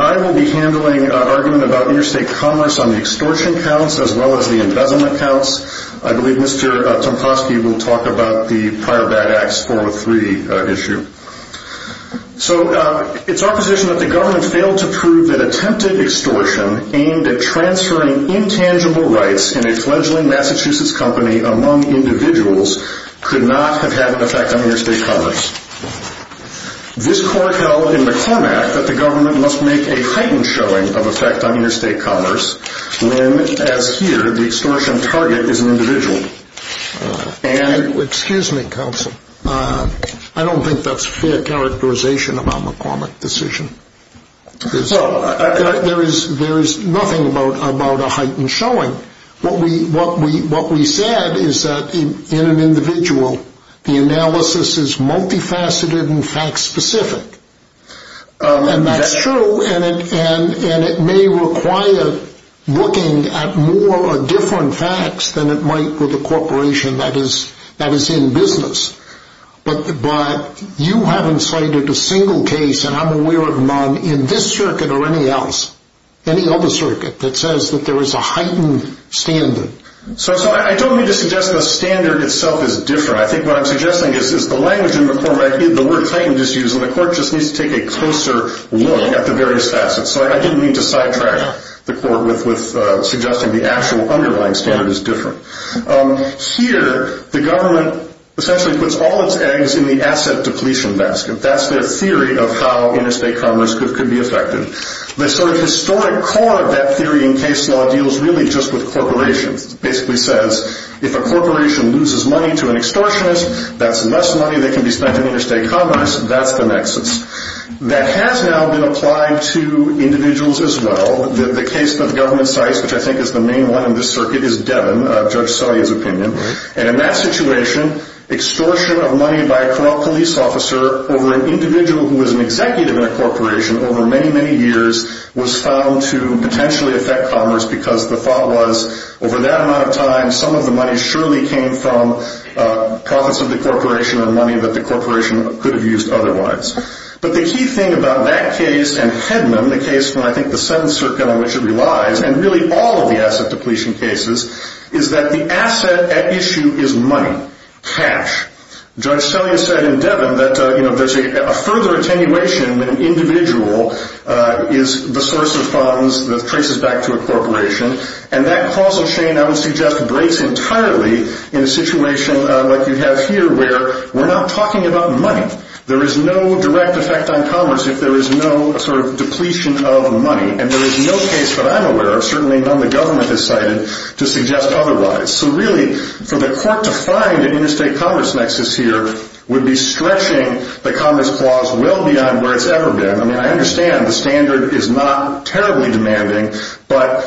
I will be handling an argument about interstate commerce on the extortion counts as well as the embezzlement counts. I believe Mr. Tomposky will talk about the prior bad acts 403 issue. So it's our position that the government failed to prove that attempted extortion aimed at transferring intangible rights in a fledgling Massachusetts company among individuals could not have had an effect on interstate commerce. This court held in the Clem Act that the government must make a heightened showing of effect on interstate commerce when, as here, the extortion target is an individual. Excuse me, counsel. I don't think that's fair characterization of our McCormick decision. There is nothing about a heightened showing. What we said is that in an individual, the analysis is multifaceted and fact specific. And that's true. And it may require looking at more or different facts than it might with a corporation that is in business. But you haven't cited a single case, and I'm aware of none, in this circuit or any else, any other circuit, that says that there is a heightened standard. So I don't mean to suggest the standard itself is different. I think what I'm suggesting is the language in the court right here, the word heightened is used, and the court just needs to take a closer look at the various facets. So I didn't mean to sidetrack the court with suggesting the actual underlying standard is different. Here, the government essentially puts all its eggs in the asset depletion basket. That's their theory of how interstate commerce could be affected. The sort of historic core of that theory in case law deals really just with corporations. It basically says if a corporation loses money to an extortionist, that's less money that can be spent in interstate commerce. That's the nexus. That has now been applied to individuals as well. The case that the government cites, which I think is the main one in this circuit, is Devin, Judge Sully's opinion. And in that situation, extortion of money by a corral police officer over an individual who is an executive in a corporation over many, many years was found to potentially affect commerce because the thought was over that amount of time, some of the money surely came from profits of the corporation or money that the corporation could have used otherwise. But the key thing about that case and Hedman, the case from I think the seventh circuit on which it relies, and really all of the asset depletion cases, is that the asset at issue is money. Cash. Judge Sully has said in Devin that a further attenuation in an individual is the source of a corporation. And that causal chain, I would suggest, breaks entirely in a situation like you have here where we're not talking about money. There is no direct effect on commerce if there is no sort of depletion of money. And there is no case that I'm aware of, certainly none the government has cited, to suggest otherwise. So really, for the court to find an interstate commerce nexus here would be stretching the commerce clause well beyond where it's ever been. I mean, I understand the standard is not terribly demanding, but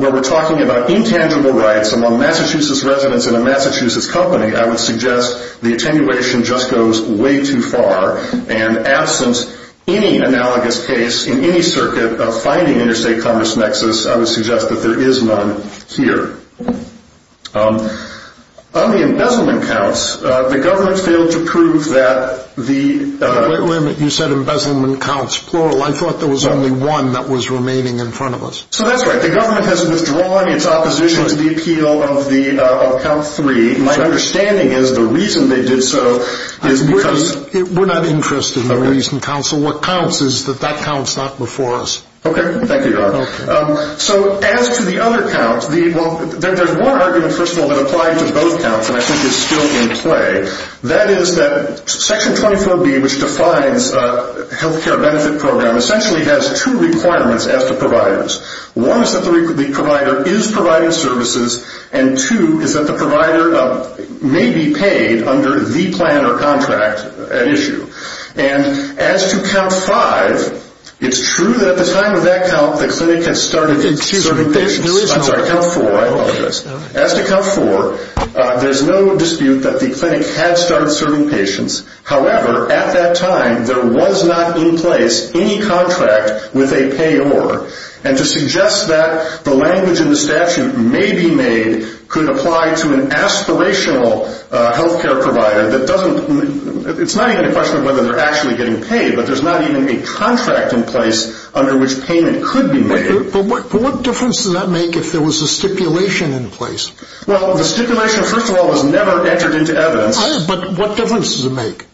when we're talking about intangible rights among Massachusetts residents in a Massachusetts company, I would suggest the attenuation just goes way too far. And absence any analogous case in any circuit of finding interstate commerce nexus, I would suggest that there is none here. On the embezzlement counts, the government failed to prove that the... I thought there was only one that was remaining in front of us. So that's right. The government has withdrawn its opposition to the appeal of count three. My understanding is the reason they did so is because... We're not interested in the reason, counsel. What counts is that that count's not before us. Okay. Thank you, Your Honor. So as to the other count, there's one argument, first of all, that applied to both counts and I think is still in play. That is that Section 24B, which defines a health care benefit program, essentially has two requirements as to providers. One is that the provider is providing services, and two is that the provider may be paid under the plan or contract at issue. And as to count five, it's true that at the time of that count, the clinic has started As to count four, there's no dispute that the clinic had started serving patients. However, at that time, there was not in place any contract with a payor. And to suggest that the language in the statute may be made could apply to an aspirational health care provider that doesn't... It's not even a question of whether they're actually getting paid, but there's not even a contract in place under which payment could be made. But what difference does that make if there was a stipulation in place? Well, the stipulation, first of all, has never entered into evidence. But what difference does it make?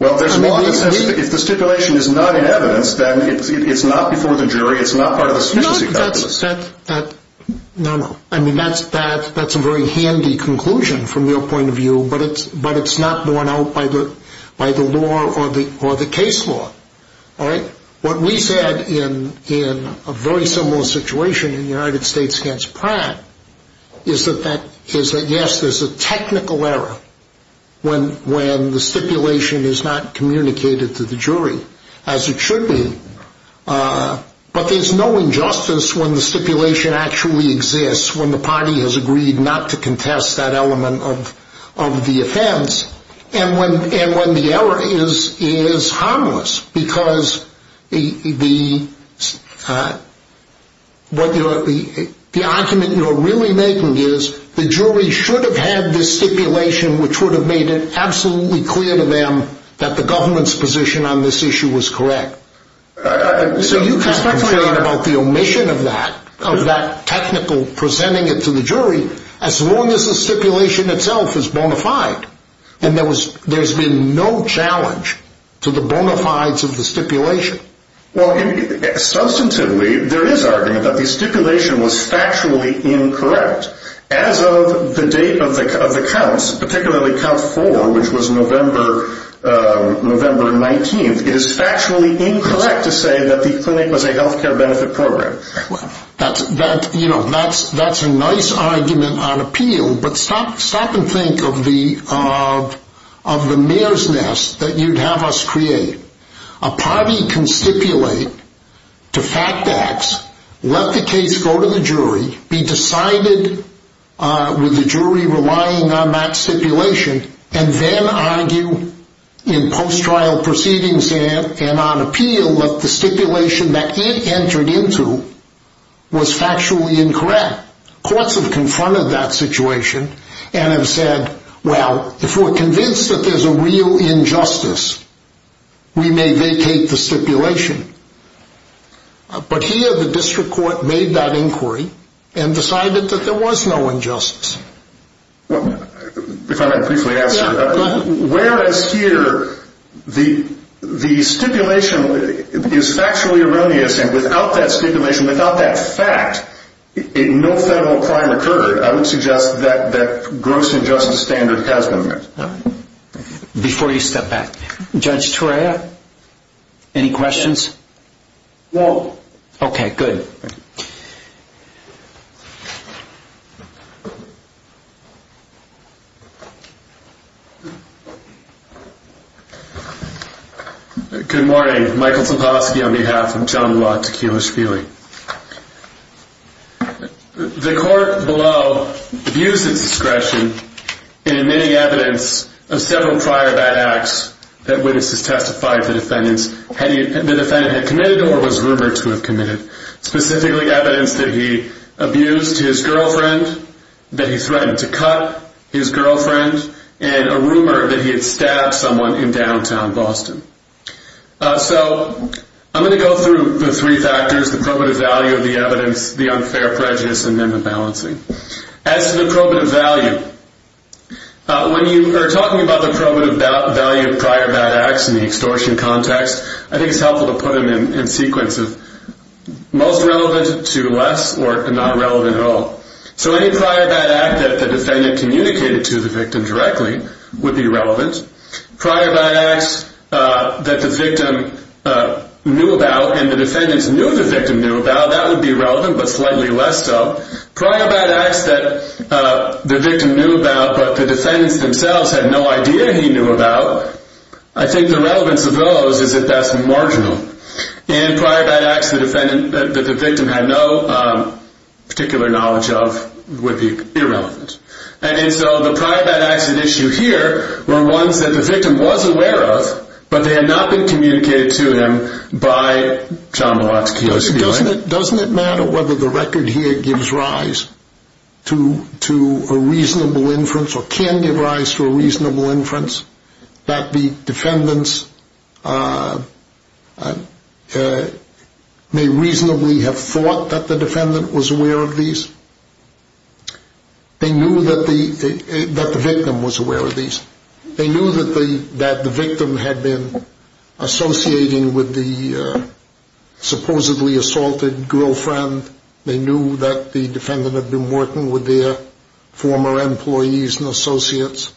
Well, if the stipulation is not in evidence, then it's not before the jury, it's not part of the sufficiency calculus. No, no. I mean, that's a very handy conclusion from your point of view, but it's not borne out by the law or the case law. What we said in a very similar situation in the United States against Pratt is that, yes, there's a technical error when the stipulation is not communicated to the jury, as it should be, but there's no injustice when the stipulation actually exists when the party has agreed not to contest that element of the offense. And when the error is harmless, because the argument you're really making is the jury should have had this stipulation which would have made it absolutely clear to them that the government's position on this issue was correct. So you can't complain about the omission of that, of that technical presenting it to the jury, as long as the stipulation itself is bona fide. And there's been no challenge to the bona fides of the stipulation. Substantively, there is argument that the stipulation was factually incorrect. As of the date of the counts, particularly count four, which was November 19th, it is factually incorrect to say that the clinic was a health care benefit program. That's a nice argument on appeal, but stop and think of the mayor's nest that you'd have us create. A party can stipulate to fact acts, let the case go to the jury, be decided with the jury on appeal that the stipulation that he entered into was factually incorrect. Courts have confronted that situation and have said, well, if we're convinced that there's a real injustice, we may vacate the stipulation. But here the district court made that inquiry and decided that there was no injustice. If I may briefly answer, whereas here the stipulation is factually erroneous and without that stipulation, without that fact, no federal crime occurred, I would suggest that gross injustice standard has been met. Before you step back, Judge Torea, any questions? No. Okay, good. Good morning. Michael Teposkey on behalf of John Locke Tequila Shpeely. The court below abused its discretion in admitting evidence of several prior bad acts that witnesses testified the defendant had committed or was rumored to have committed, specifically evidence that he abused his girlfriend, that he threatened to cut his girlfriend, and a rumor that he had stabbed someone in downtown Boston. So I'm going to go through the three factors, the probative value of the evidence, the unfair prejudice, and then the balancing. As to the probative value, when you are talking about the probative value of prior bad acts in the extortion context, I think it's helpful to put them in sequences. Most relevant to less or not relevant at all. So any prior bad act that the defendant communicated to the victim directly would be relevant. Prior bad acts that the victim knew about and the defendants knew the victim knew about, that would be relevant but slightly less so. Prior bad acts that the victim knew about but the defendants themselves had no idea he knew about, I think the relevance of those is at best marginal. And prior bad acts that the victim had no particular knowledge of would be irrelevant. And so the prior bad acts at issue here were ones that the victim was aware of but they had not been communicated to him by John Milotsky. Doesn't it matter whether the record here gives rise to a reasonable inference or can it rise to a reasonable inference that the defendants may reasonably have thought that the defendant was aware of these? They knew that the victim was aware of these. They knew that the victim had been associating with the supposedly assaulted girlfriend. They knew that the defendant had been working with their former employees and associates.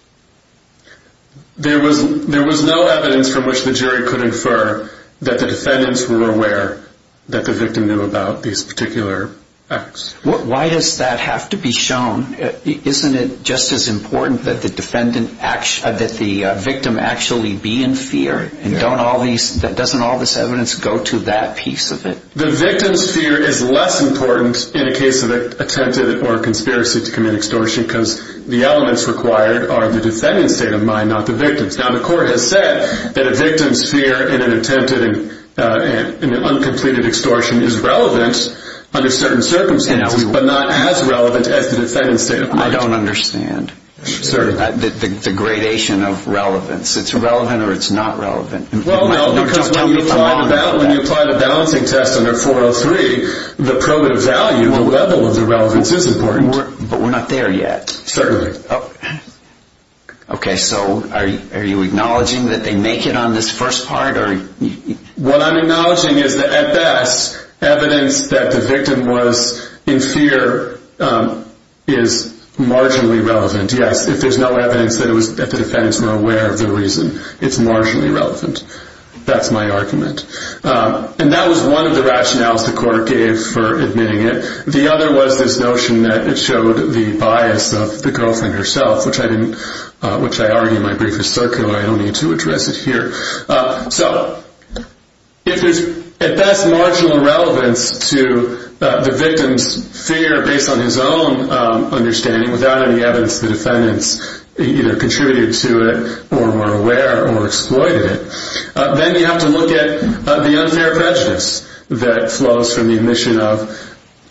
There was no evidence from which the jury could infer that the defendants were aware that the victim knew about these particular acts. Why does that have to be shown? Isn't it just as important that the victim actually be in fear? And doesn't all this evidence go to that piece of it? The victim's fear is less important in a case of attempted or conspiracy to commit extortion because the elements required are the defendant's state of mind, not the victim's. Now the court has said that a victim's fear in an attempted and uncompleted extortion is relevant under certain circumstances but not as relevant as the defendant's state of mind. I don't understand the gradation of relevance. It's relevant or it's not relevant. Well, no, because when you apply the balancing test under 403, the probative value or level of the relevance is important. But we're not there yet. Certainly. Okay, so are you acknowledging that they make it on this first part? What I'm acknowledging is that at best, evidence that the victim was in fear is marginally relevant. Yes, if there's no evidence that the defendants were aware of the reason, it's marginally relevant. That's my argument. And that was one of the rationales the court gave for admitting it. The other was this notion that it showed the bias of the girlfriend herself, which I argue my brief is circular. I don't need to address it here. So if there's at best marginal relevance to the victim's fear based on his own understanding without any evidence the defendants either contributed to it or were aware or exploited it, then you have to look at the unfair prejudice that flows from the admission of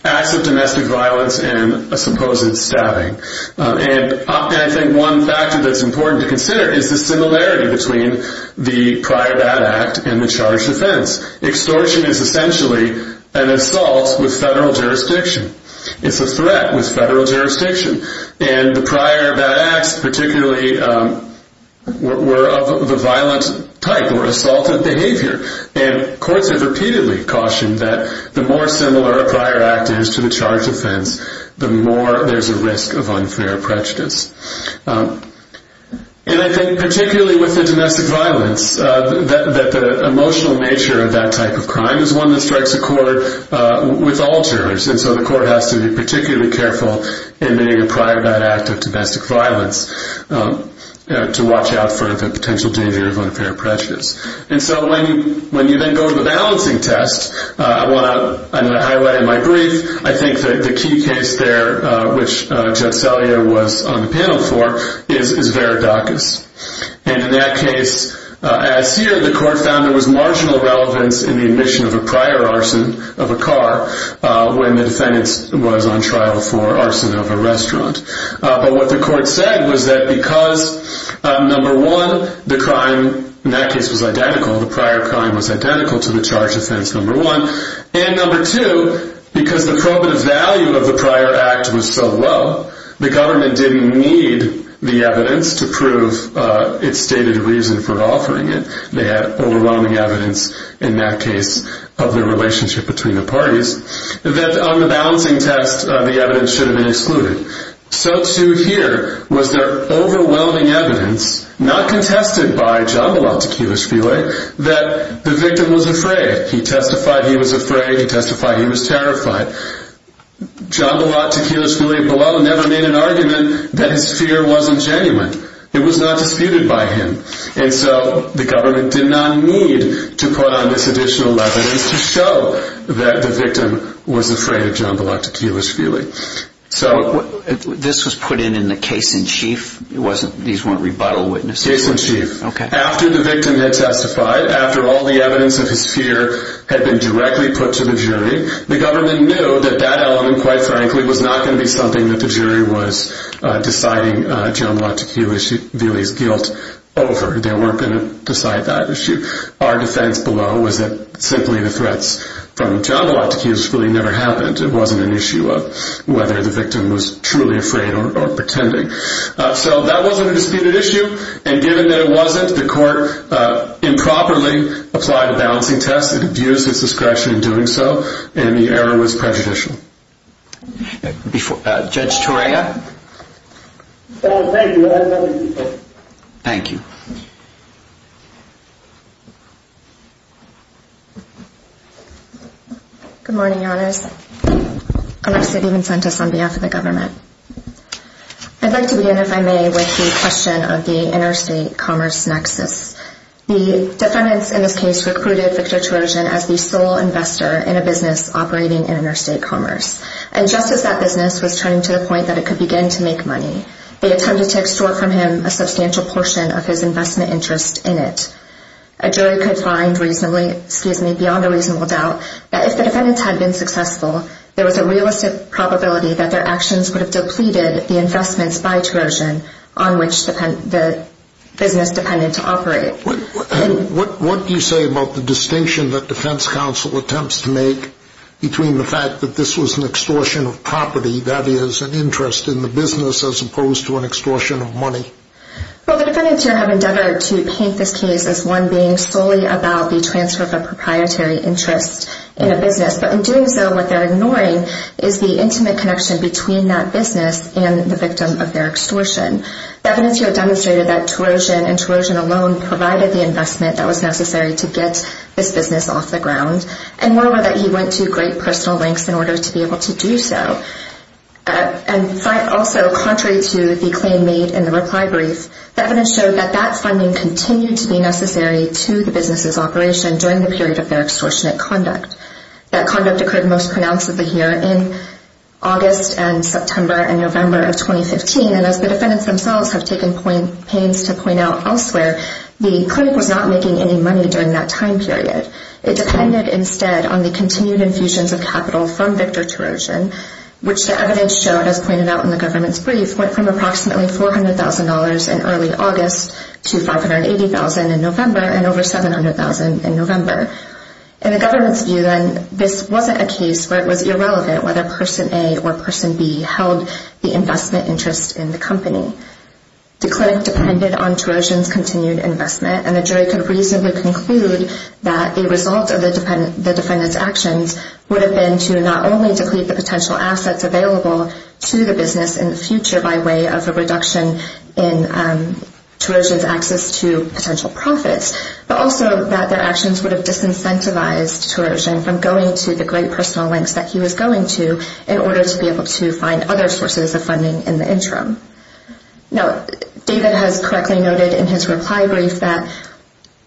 acts of domestic violence and a supposed stabbing. And I think one factor that's important to consider is the similarity between the prior bad act and the charged offense. Extortion is essentially an assault with federal jurisdiction. It's a threat with federal jurisdiction. And the prior bad acts particularly were of the violent type or assaulted behavior. And courts have repeatedly cautioned that the more similar a prior act is to the charged offense, the more there's a risk of unfair prejudice. And I think particularly with the domestic violence, that the emotional nature of that type of crime is one that strikes a chord with alters. And so the court has to be particularly careful in making a prior bad act of domestic violence to watch out for the potential danger of unfair prejudice. And so when you then go to the balancing test, I want to highlight in my brief, I think the key case there, which Judge Salier was on the panel for, is Veridacus. And in that case, as here, the court found there was marginal relevance in the admission of a prior arson of a car when the defendant was on trial for arson of a restaurant. But what the court said was that because, number one, the crime in that case was identical, the prior crime was identical to the charged offense, number one, and number two, because the probative value of the prior act was so low, the government didn't need the evidence to prove its stated reason for offering it. They had overwhelming evidence in that case of the relationship between the parties that on the balancing test the evidence should have been excluded. So to here was their overwhelming evidence, not contested by Jambalat Tequilishvili, that the victim was afraid. He testified he was afraid. He testified he was terrified. Jambalat Tequilishvili-Bolel never made an argument that his fear wasn't genuine. It was not disputed by him. And so the government did not need to put on this additional evidence to show that the victim was afraid of Jambalat Tequilishvili. This was put in in the case in chief? These weren't rebuttal witnesses? Case in chief. After the victim had testified, after all the evidence of his fear had been directly put to the jury, the government knew that that element, quite frankly, was not going to be something that the jury was deciding Jambalat Tequilishvili's guilt over. They weren't going to decide that issue. Our defense below was that simply the threats from Jambalat Tequilishvili never happened. It wasn't an issue of whether the victim was truly afraid or pretending. So that wasn't a disputed issue, and given that it wasn't, the court improperly applied a balancing test and abused its discretion in doing so, and the error was prejudicial. Judge Torea? Thank you. I have nothing to say. Thank you. Good morning, Your Honors. Alexis Vincentus on behalf of the government. I'd like to begin, if I may, with the question of the interstate commerce nexus. The defendants in this case recruited Victor Terosian as the sole investor in a business operating in interstate commerce, and just as that business was turning to the point that it could begin to make money, they attempted to extort from him a substantial portion of his investment interest in it. A jury could find beyond a reasonable doubt that if the defendants had been successful, there was a realistic probability that their actions would have depleted the investments by Terosian on which the business depended to operate. What do you say about the distinction that defense counsel attempts to make between the fact that this was an extortion of property, that is, an interest in the business, as opposed to an extortion of money? Well, the defendants here have endeavored to paint this case as one being solely about the transfer of a proprietary interest in a business, but in doing so, what they're ignoring is the intimate connection between that business and the victim of their extortion. The evidence here demonstrated that Terosian and Terosian alone provided the investment that was necessary to get this business off the ground, and moreover, that he went to great personal lengths in order to be able to do so. Also, contrary to the claim made in the reply brief, the evidence showed that that funding continued to be necessary to the business's operation during the period of their extortionate conduct. That conduct occurred most pronouncedly here in August and September and November of 2015, and as the defendants themselves have taken pains to point out elsewhere, the clinic was not making any money during that time period. It depended instead on the continued infusions of capital from Victor Terosian, which the evidence showed, as pointed out in the government's brief, went from approximately $400,000 in early August to $580,000 in November and over $700,000 in November. In the government's view, then, this wasn't a case where it was irrelevant whether person A or person B held the investment interest in the company. The clinic depended on Terosian's continued investment, and the jury could reasonably conclude that a result of the defendant's actions would have been to not only deplete the potential assets available to the business in the future by way of a reduction in Terosian's access to potential profits, but also that their actions would have disincentivized Terosian from going to the great personal lengths that he was going to in order to be able to find other sources of funding in the interim. Now, David has correctly noted in his reply brief that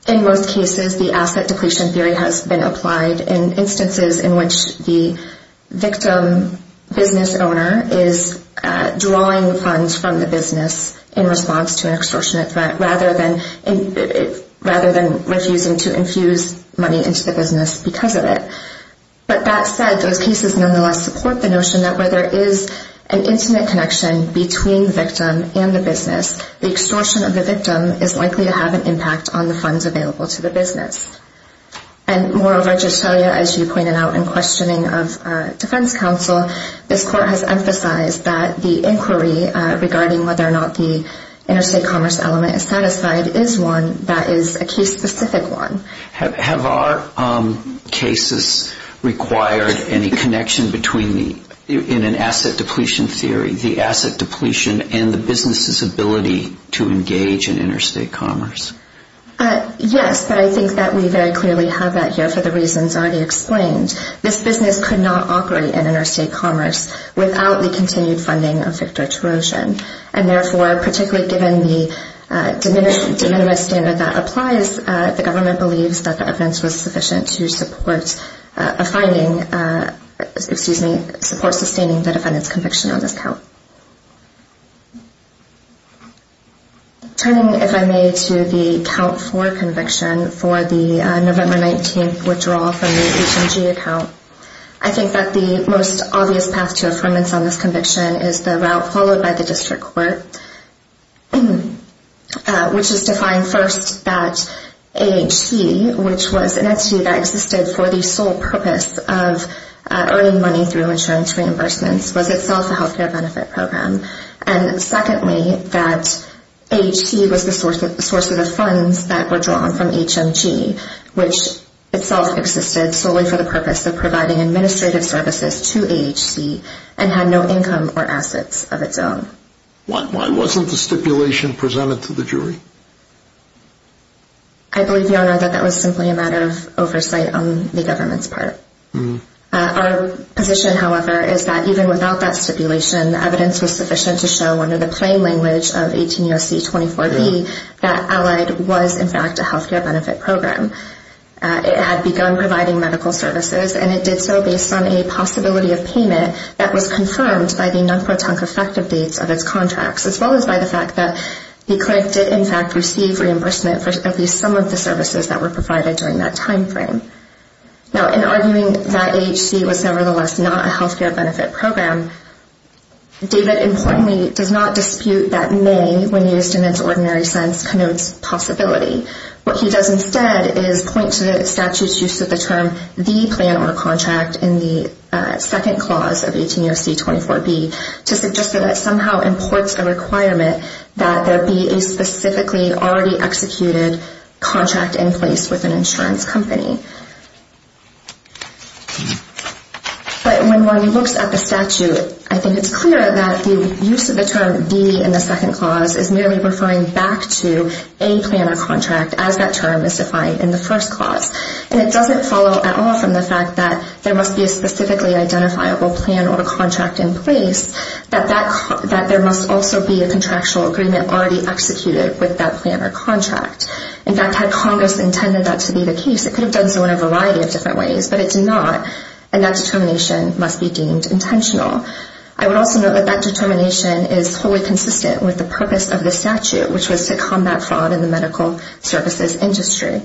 in most cases, the asset depletion theory has been applied in instances in which the victim business owner is drawing funds from the business in response to an extortionate threat rather than refusing to infuse money into the business because of it. But that said, those cases nonetheless support the notion that where there is an intimate connection between the victim and the business, the extortion of the victim is likely to have an impact on the funds available to the business. And moreover, as you pointed out in questioning of defense counsel, this court has emphasized that the inquiry regarding whether or not the interstate commerce element is satisfied is one that is a case-specific one. Have our cases required any connection between, in an asset depletion theory, the asset depletion and the business's ability to engage in interstate commerce? Yes, but I think that we very clearly have that here for the reasons already explained. This business could not operate in interstate commerce without the continued funding of victor-trojan. And therefore, particularly given the diminished standard that applies, the government believes that the evidence was sufficient to support a finding, excuse me, support sustaining the defendant's conviction on this count. Turning, if I may, to the count for conviction for the November 19th withdrawal from the HMG account, I think that the most obvious path to affirmance on this conviction is the route followed by the district court, which is defined first that AHC, which was an entity that existed for the sole purpose of earning money through insurance reimbursements, was itself a health care benefit program. And secondly, that AHC was the source of the funds that were drawn from HMG, which itself existed solely for the purpose of providing administrative services to AHC and had no income or assets of its own. Why wasn't the stipulation presented to the jury? I believe, Your Honor, that that was simply a matter of oversight on the government's part. Our position, however, is that even without that stipulation, the evidence was sufficient to show under the plain language of 18 U.S.C. 24B, that Allied was, in fact, a health care benefit program. It had begun providing medical services, and it did so based on a possibility of payment that was confirmed by the non-proton effective dates of its contracts, as well as by the fact that the clerk did, in fact, receive reimbursement for at least some of the services that were provided during that timeframe. Now, in arguing that AHC was, nevertheless, not a health care benefit program, David, importantly, does not dispute that may, when used in its ordinary sense, connotes possibility. What he does instead is point to the statute's use of the term, the plan or contract, in the second clause of 18 U.S.C. 24B to suggest that it somehow imports the requirement that there be a specifically already executed contract in place with an insurance company. But when one looks at the statute, I think it's clear that the use of the term, the, in the second clause is merely referring back to a plan or contract, as that term is defined in the first clause. And it doesn't follow at all from the fact that there must be a specifically identifiable plan or contract in place, that there must also be a contractual agreement already executed with that plan or contract. In fact, had Congress intended that to be the case, it could have done so in a variety of different ways, but it did not, and that determination must be deemed intentional. I would also note that that determination is wholly consistent with the purpose of the statute, which was to combat fraud in the medical services industry.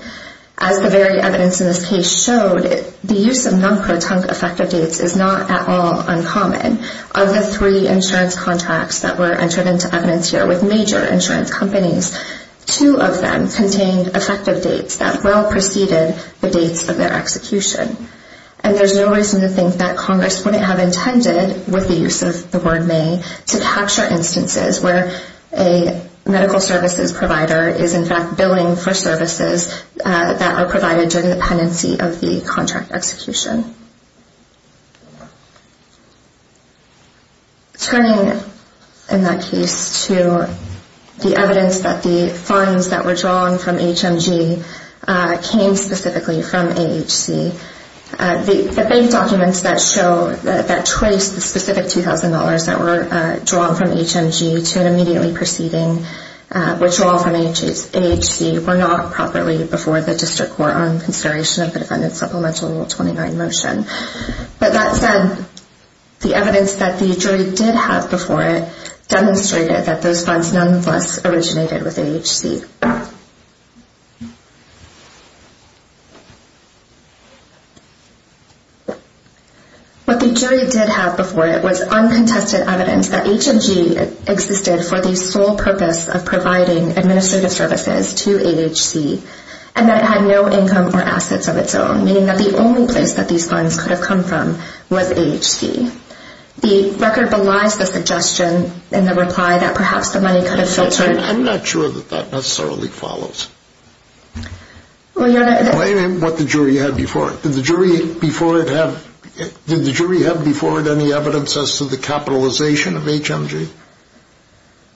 As the varied evidence in this case showed, the use of non-protunct effective dates is not at all uncommon. Of the three insurance contracts that were entered into evidence here with major insurance companies, two of them contained effective dates that well preceded the dates of their execution. And there's no reason to think that Congress wouldn't have intended, with the use of the word may, to capture instances where a medical services provider is in fact billing for services that are provided during the pendency of the contract execution. Turning, in that case, to the evidence that the funds that were drawn from HMG came specifically from AHC, the bank documents that show, that trace the specific $2,000 that were drawn from HMG to an immediately preceding withdrawal from AHC were not properly before the district court on consideration of the Defendant Supplemental Rule 29 motion. But that said, the evidence that the jury did have before it demonstrated that those funds, nonetheless, originated with AHC. What the jury did have before it was uncontested evidence that HMG existed for the sole purpose of providing administrative services to AHC and that it had no income or assets of its own, meaning that the only place that these funds could have come from was AHC. The record belies the suggestion and the reply that perhaps the money could have filtered. I'm not sure that that necessarily follows. What the jury had before it. Did the jury have before it any evidence as to the capitalization of HMG?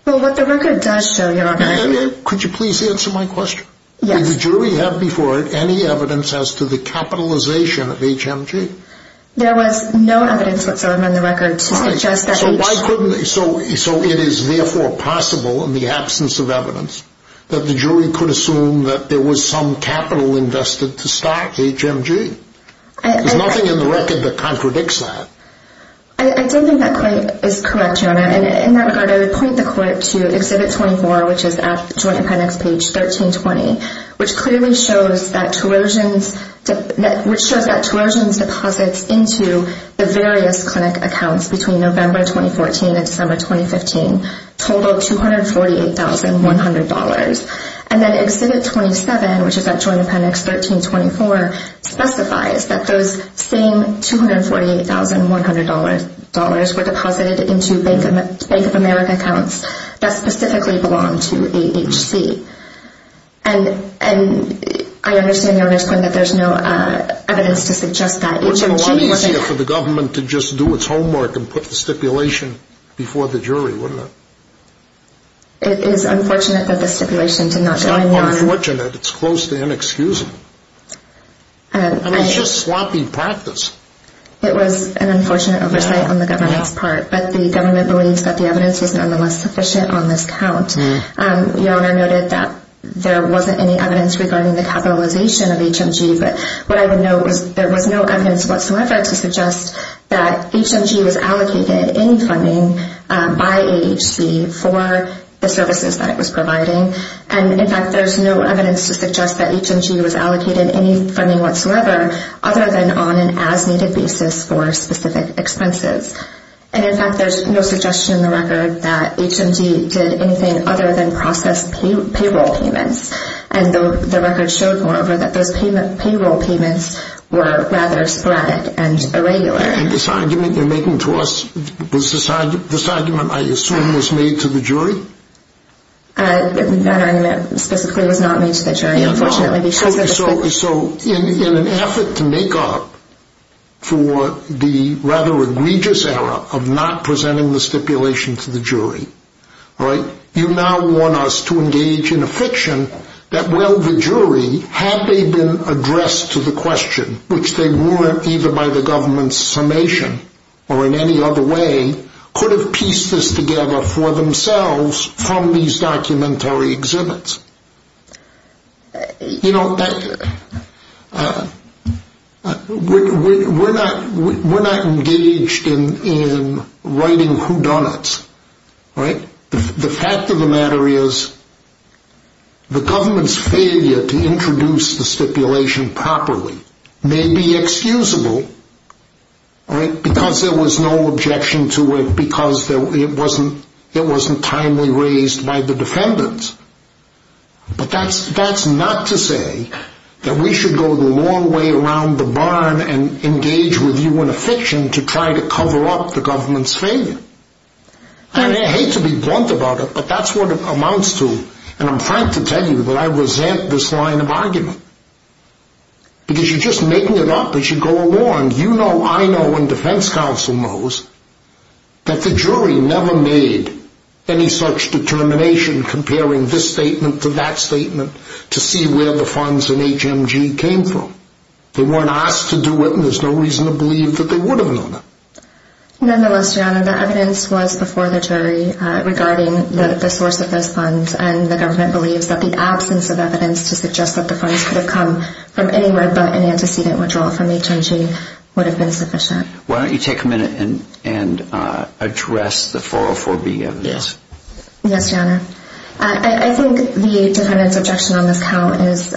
Well, what the record does show, Your Honor. Could you please answer my question? Yes. Did the jury have before it any evidence as to the capitalization of HMG? There was no evidence whatsoever in the record to suggest that HMG. Why couldn't they? So it is therefore possible in the absence of evidence that the jury could assume that there was some capital invested to start HMG. There's nothing in the record that contradicts that. I don't think that point is correct, Your Honor. In that regard, I would point the court to Exhibit 24, which is at Joint Appendix page 1320, which clearly shows that Terosian's deposits into the various clinic accounts between November 2014 and December 2015 total $248,100. And then Exhibit 27, which is at Joint Appendix 1324, specifies that those same $248,100 were deposited into Bank of America accounts that specifically belong to AHC. And I understand, Your Honor's point, that there's no evidence to suggest that HMG wasn't- Wouldn't it have been a lot easier for the government to just do its homework and put the stipulation before the jury, wouldn't it? It is unfortunate that the stipulation did not go in line- It's not unfortunate. It's close to inexcusable. And it's just sloppy practice. It was an unfortunate oversight on the government's part, but the government believes that the evidence is nonetheless sufficient on this count. Your Honor noted that there wasn't any evidence regarding the capitalization of HMG, but what I would note is there was no evidence whatsoever to suggest that HMG was allocated any funding by AHC for the services that it was providing. And, in fact, there's no evidence to suggest that HMG was allocated any funding whatsoever other than on an as-needed basis for specific expenses. And, in fact, there's no suggestion in the record that HMG did anything other than process payroll payments. And the record showed, moreover, that those payroll payments were rather sporadic and irregular. And this argument you're making to us, this argument, I assume, was made to the jury? That argument specifically was not made to the jury, unfortunately. So, in an effort to make up for the rather egregious error of not presenting the stipulation to the jury, you now want us to engage in a fiction that, well, the jury, had they been addressed to the question, which they weren't either by the government's summation or in any other way, could have pieced this together for themselves from these documentary exhibits. You know, we're not engaged in writing whodunits. The fact of the matter is the government's failure to introduce the stipulation properly may be excusable because there was no objection to it, because it wasn't timely raised by the defendants. But that's not to say that we should go the long way around the barn and engage with you in a fiction to try to cover up the government's failure. And I hate to be blunt about it, but that's what it amounts to. And I'm trying to tell you that I resent this line of argument. Because you're just making it up as you go along. You know, I know, and defense counsel knows that the jury never made any such determination comparing this statement to that statement to see where the funds in HMG came from. They weren't asked to do it, and there's no reason to believe that they would have known that. Nonetheless, Your Honor, the evidence was before the jury regarding the source of those funds, and the government believes that the absence of evidence to suggest that the funds could have come from anywhere but an antecedent withdrawal from HMG would have been sufficient. Why don't you take a minute and address the 404B evidence. Yes, Your Honor. I think the defendant's objection on this count is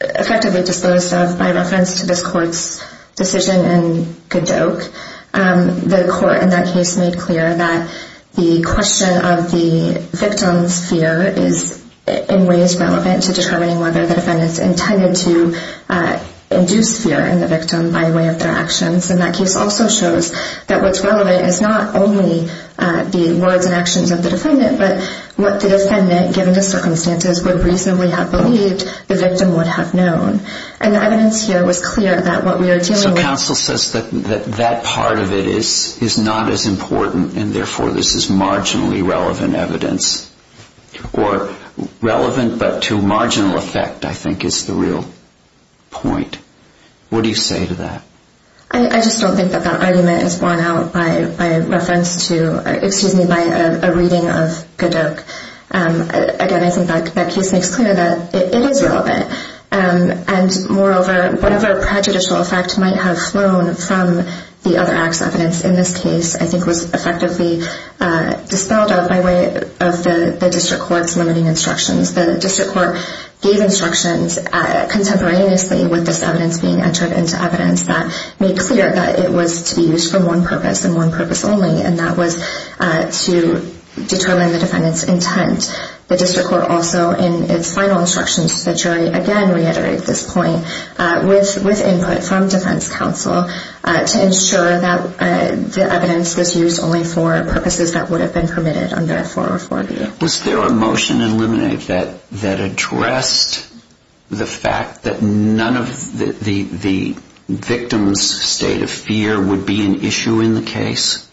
effectively disposed of by reference to this court's decision in Godoke. The court in that case made clear that the question of the victim's fear is in ways relevant to determining whether the defendant's intended to induce fear in the victim by way of their actions. And that case also shows that what's relevant is not only the words and actions of the defendant, but what the defendant, given the circumstances, would reasonably have believed the victim would have known. And the evidence here was clear that what we are dealing with... The counsel says that that part of it is not as important, and therefore this is marginally relevant evidence. Or relevant but to marginal effect, I think, is the real point. What do you say to that? I just don't think that that argument is borne out by reference to... Excuse me, by a reading of Godoke. Again, I think that case makes clear that it is relevant. And moreover, whatever prejudicial effect might have flown from the other act's evidence in this case, I think was effectively dispelled out by way of the district court's limiting instructions. The district court gave instructions contemporaneously with this evidence being entered into evidence that made clear that it was to be used for one purpose and one purpose only, and that was to determine the defendant's intent. The district court also, in its final instructions to the jury, again reiterated this point with input from defense counsel to ensure that the evidence was used only for purposes that would have been permitted under 404B. Was there a motion eliminated that addressed the fact that none of the victim's state of fear would be an issue in the case?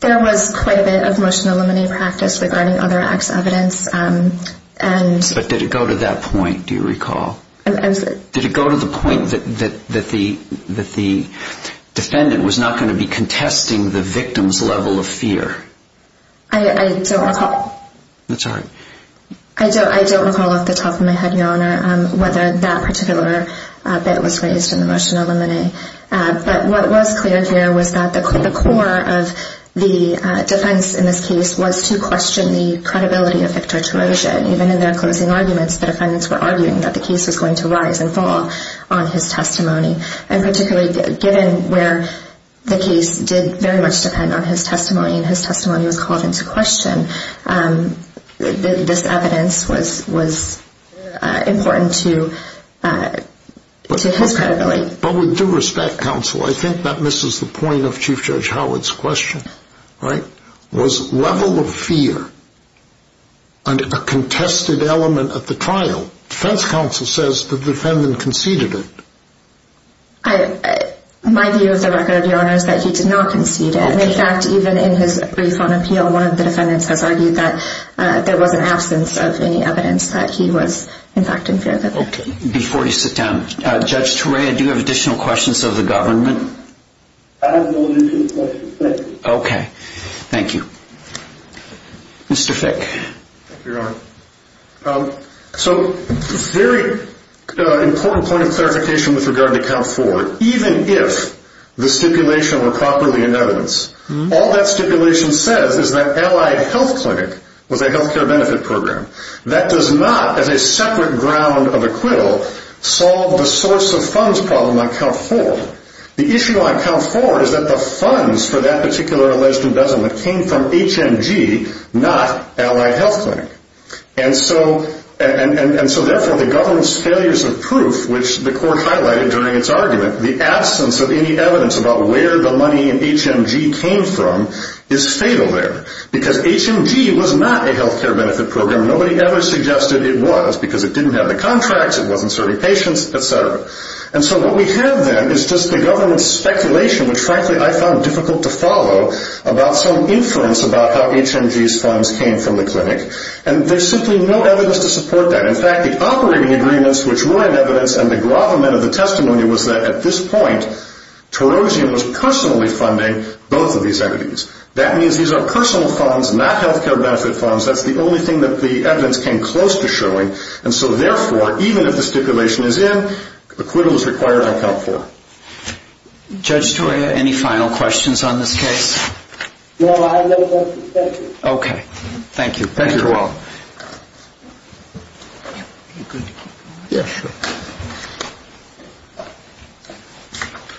There was quite a bit of motion eliminated practice regarding other act's evidence. But did it go to that point, do you recall? Did it go to the point that the defendant was not going to be contesting the victim's level of fear? I don't recall off the top of my head, Your Honor, whether that particular bit was raised in the motion eliminated. But what was clear here was that the core of the defense in this case was to question the credibility of Victor Terosia. Even in their closing arguments, the defendants were arguing that the case was going to rise and fall on his testimony. And particularly given where the case did very much depend on his testimony and his testimony was called into question, this evidence was important to his credibility. But with due respect, counsel, I think that misses the point of Chief Judge Howard's question. Was level of fear a contested element of the trial? Defense counsel says the defendant conceded it. My view of the record, Your Honor, is that he did not concede it. In fact, even in his brief on appeal, one of the defendants has argued that there was an absence of any evidence that he was in fact in fear of it. Before you sit down, Judge Turek, do you have additional questions of the government? I have no additional questions. Thank you. Okay. Thank you. Mr. Fick. Thank you, Your Honor. So very important point of clarification with regard to count four. Even if the stipulation were properly in evidence, all that stipulation says is that Allied Health Clinic was a health care benefit program. That does not, as a separate ground of acquittal, solve the source of funds problem on count four. The issue on count four is that the funds for that particular alleged embezzlement came from HMG, not Allied Health Clinic. And so therefore the government's failures of proof, which the court highlighted during its argument, the absence of any evidence about where the money in HMG came from is fatal there. Because HMG was not a health care benefit program. Nobody ever suggested it was because it didn't have the contracts, it wasn't serving patients, et cetera. And so what we have then is just the government's speculation, which frankly I found difficult to follow, about some inference about how HMG's funds came from the clinic. And there's simply no evidence to support that. In fact, the operating agreements, which were in evidence, and the gravamen of the testimony was that at this point, Terosian was personally funding both of these entities. That means these are personal funds, not health care benefit funds. That's the only thing that the evidence came close to showing. And so therefore, even if the stipulation is in, acquittal is required on count four. Judge Storia, any final questions on this case? No, I have no questions. Thank you. Thank you. You're welcome.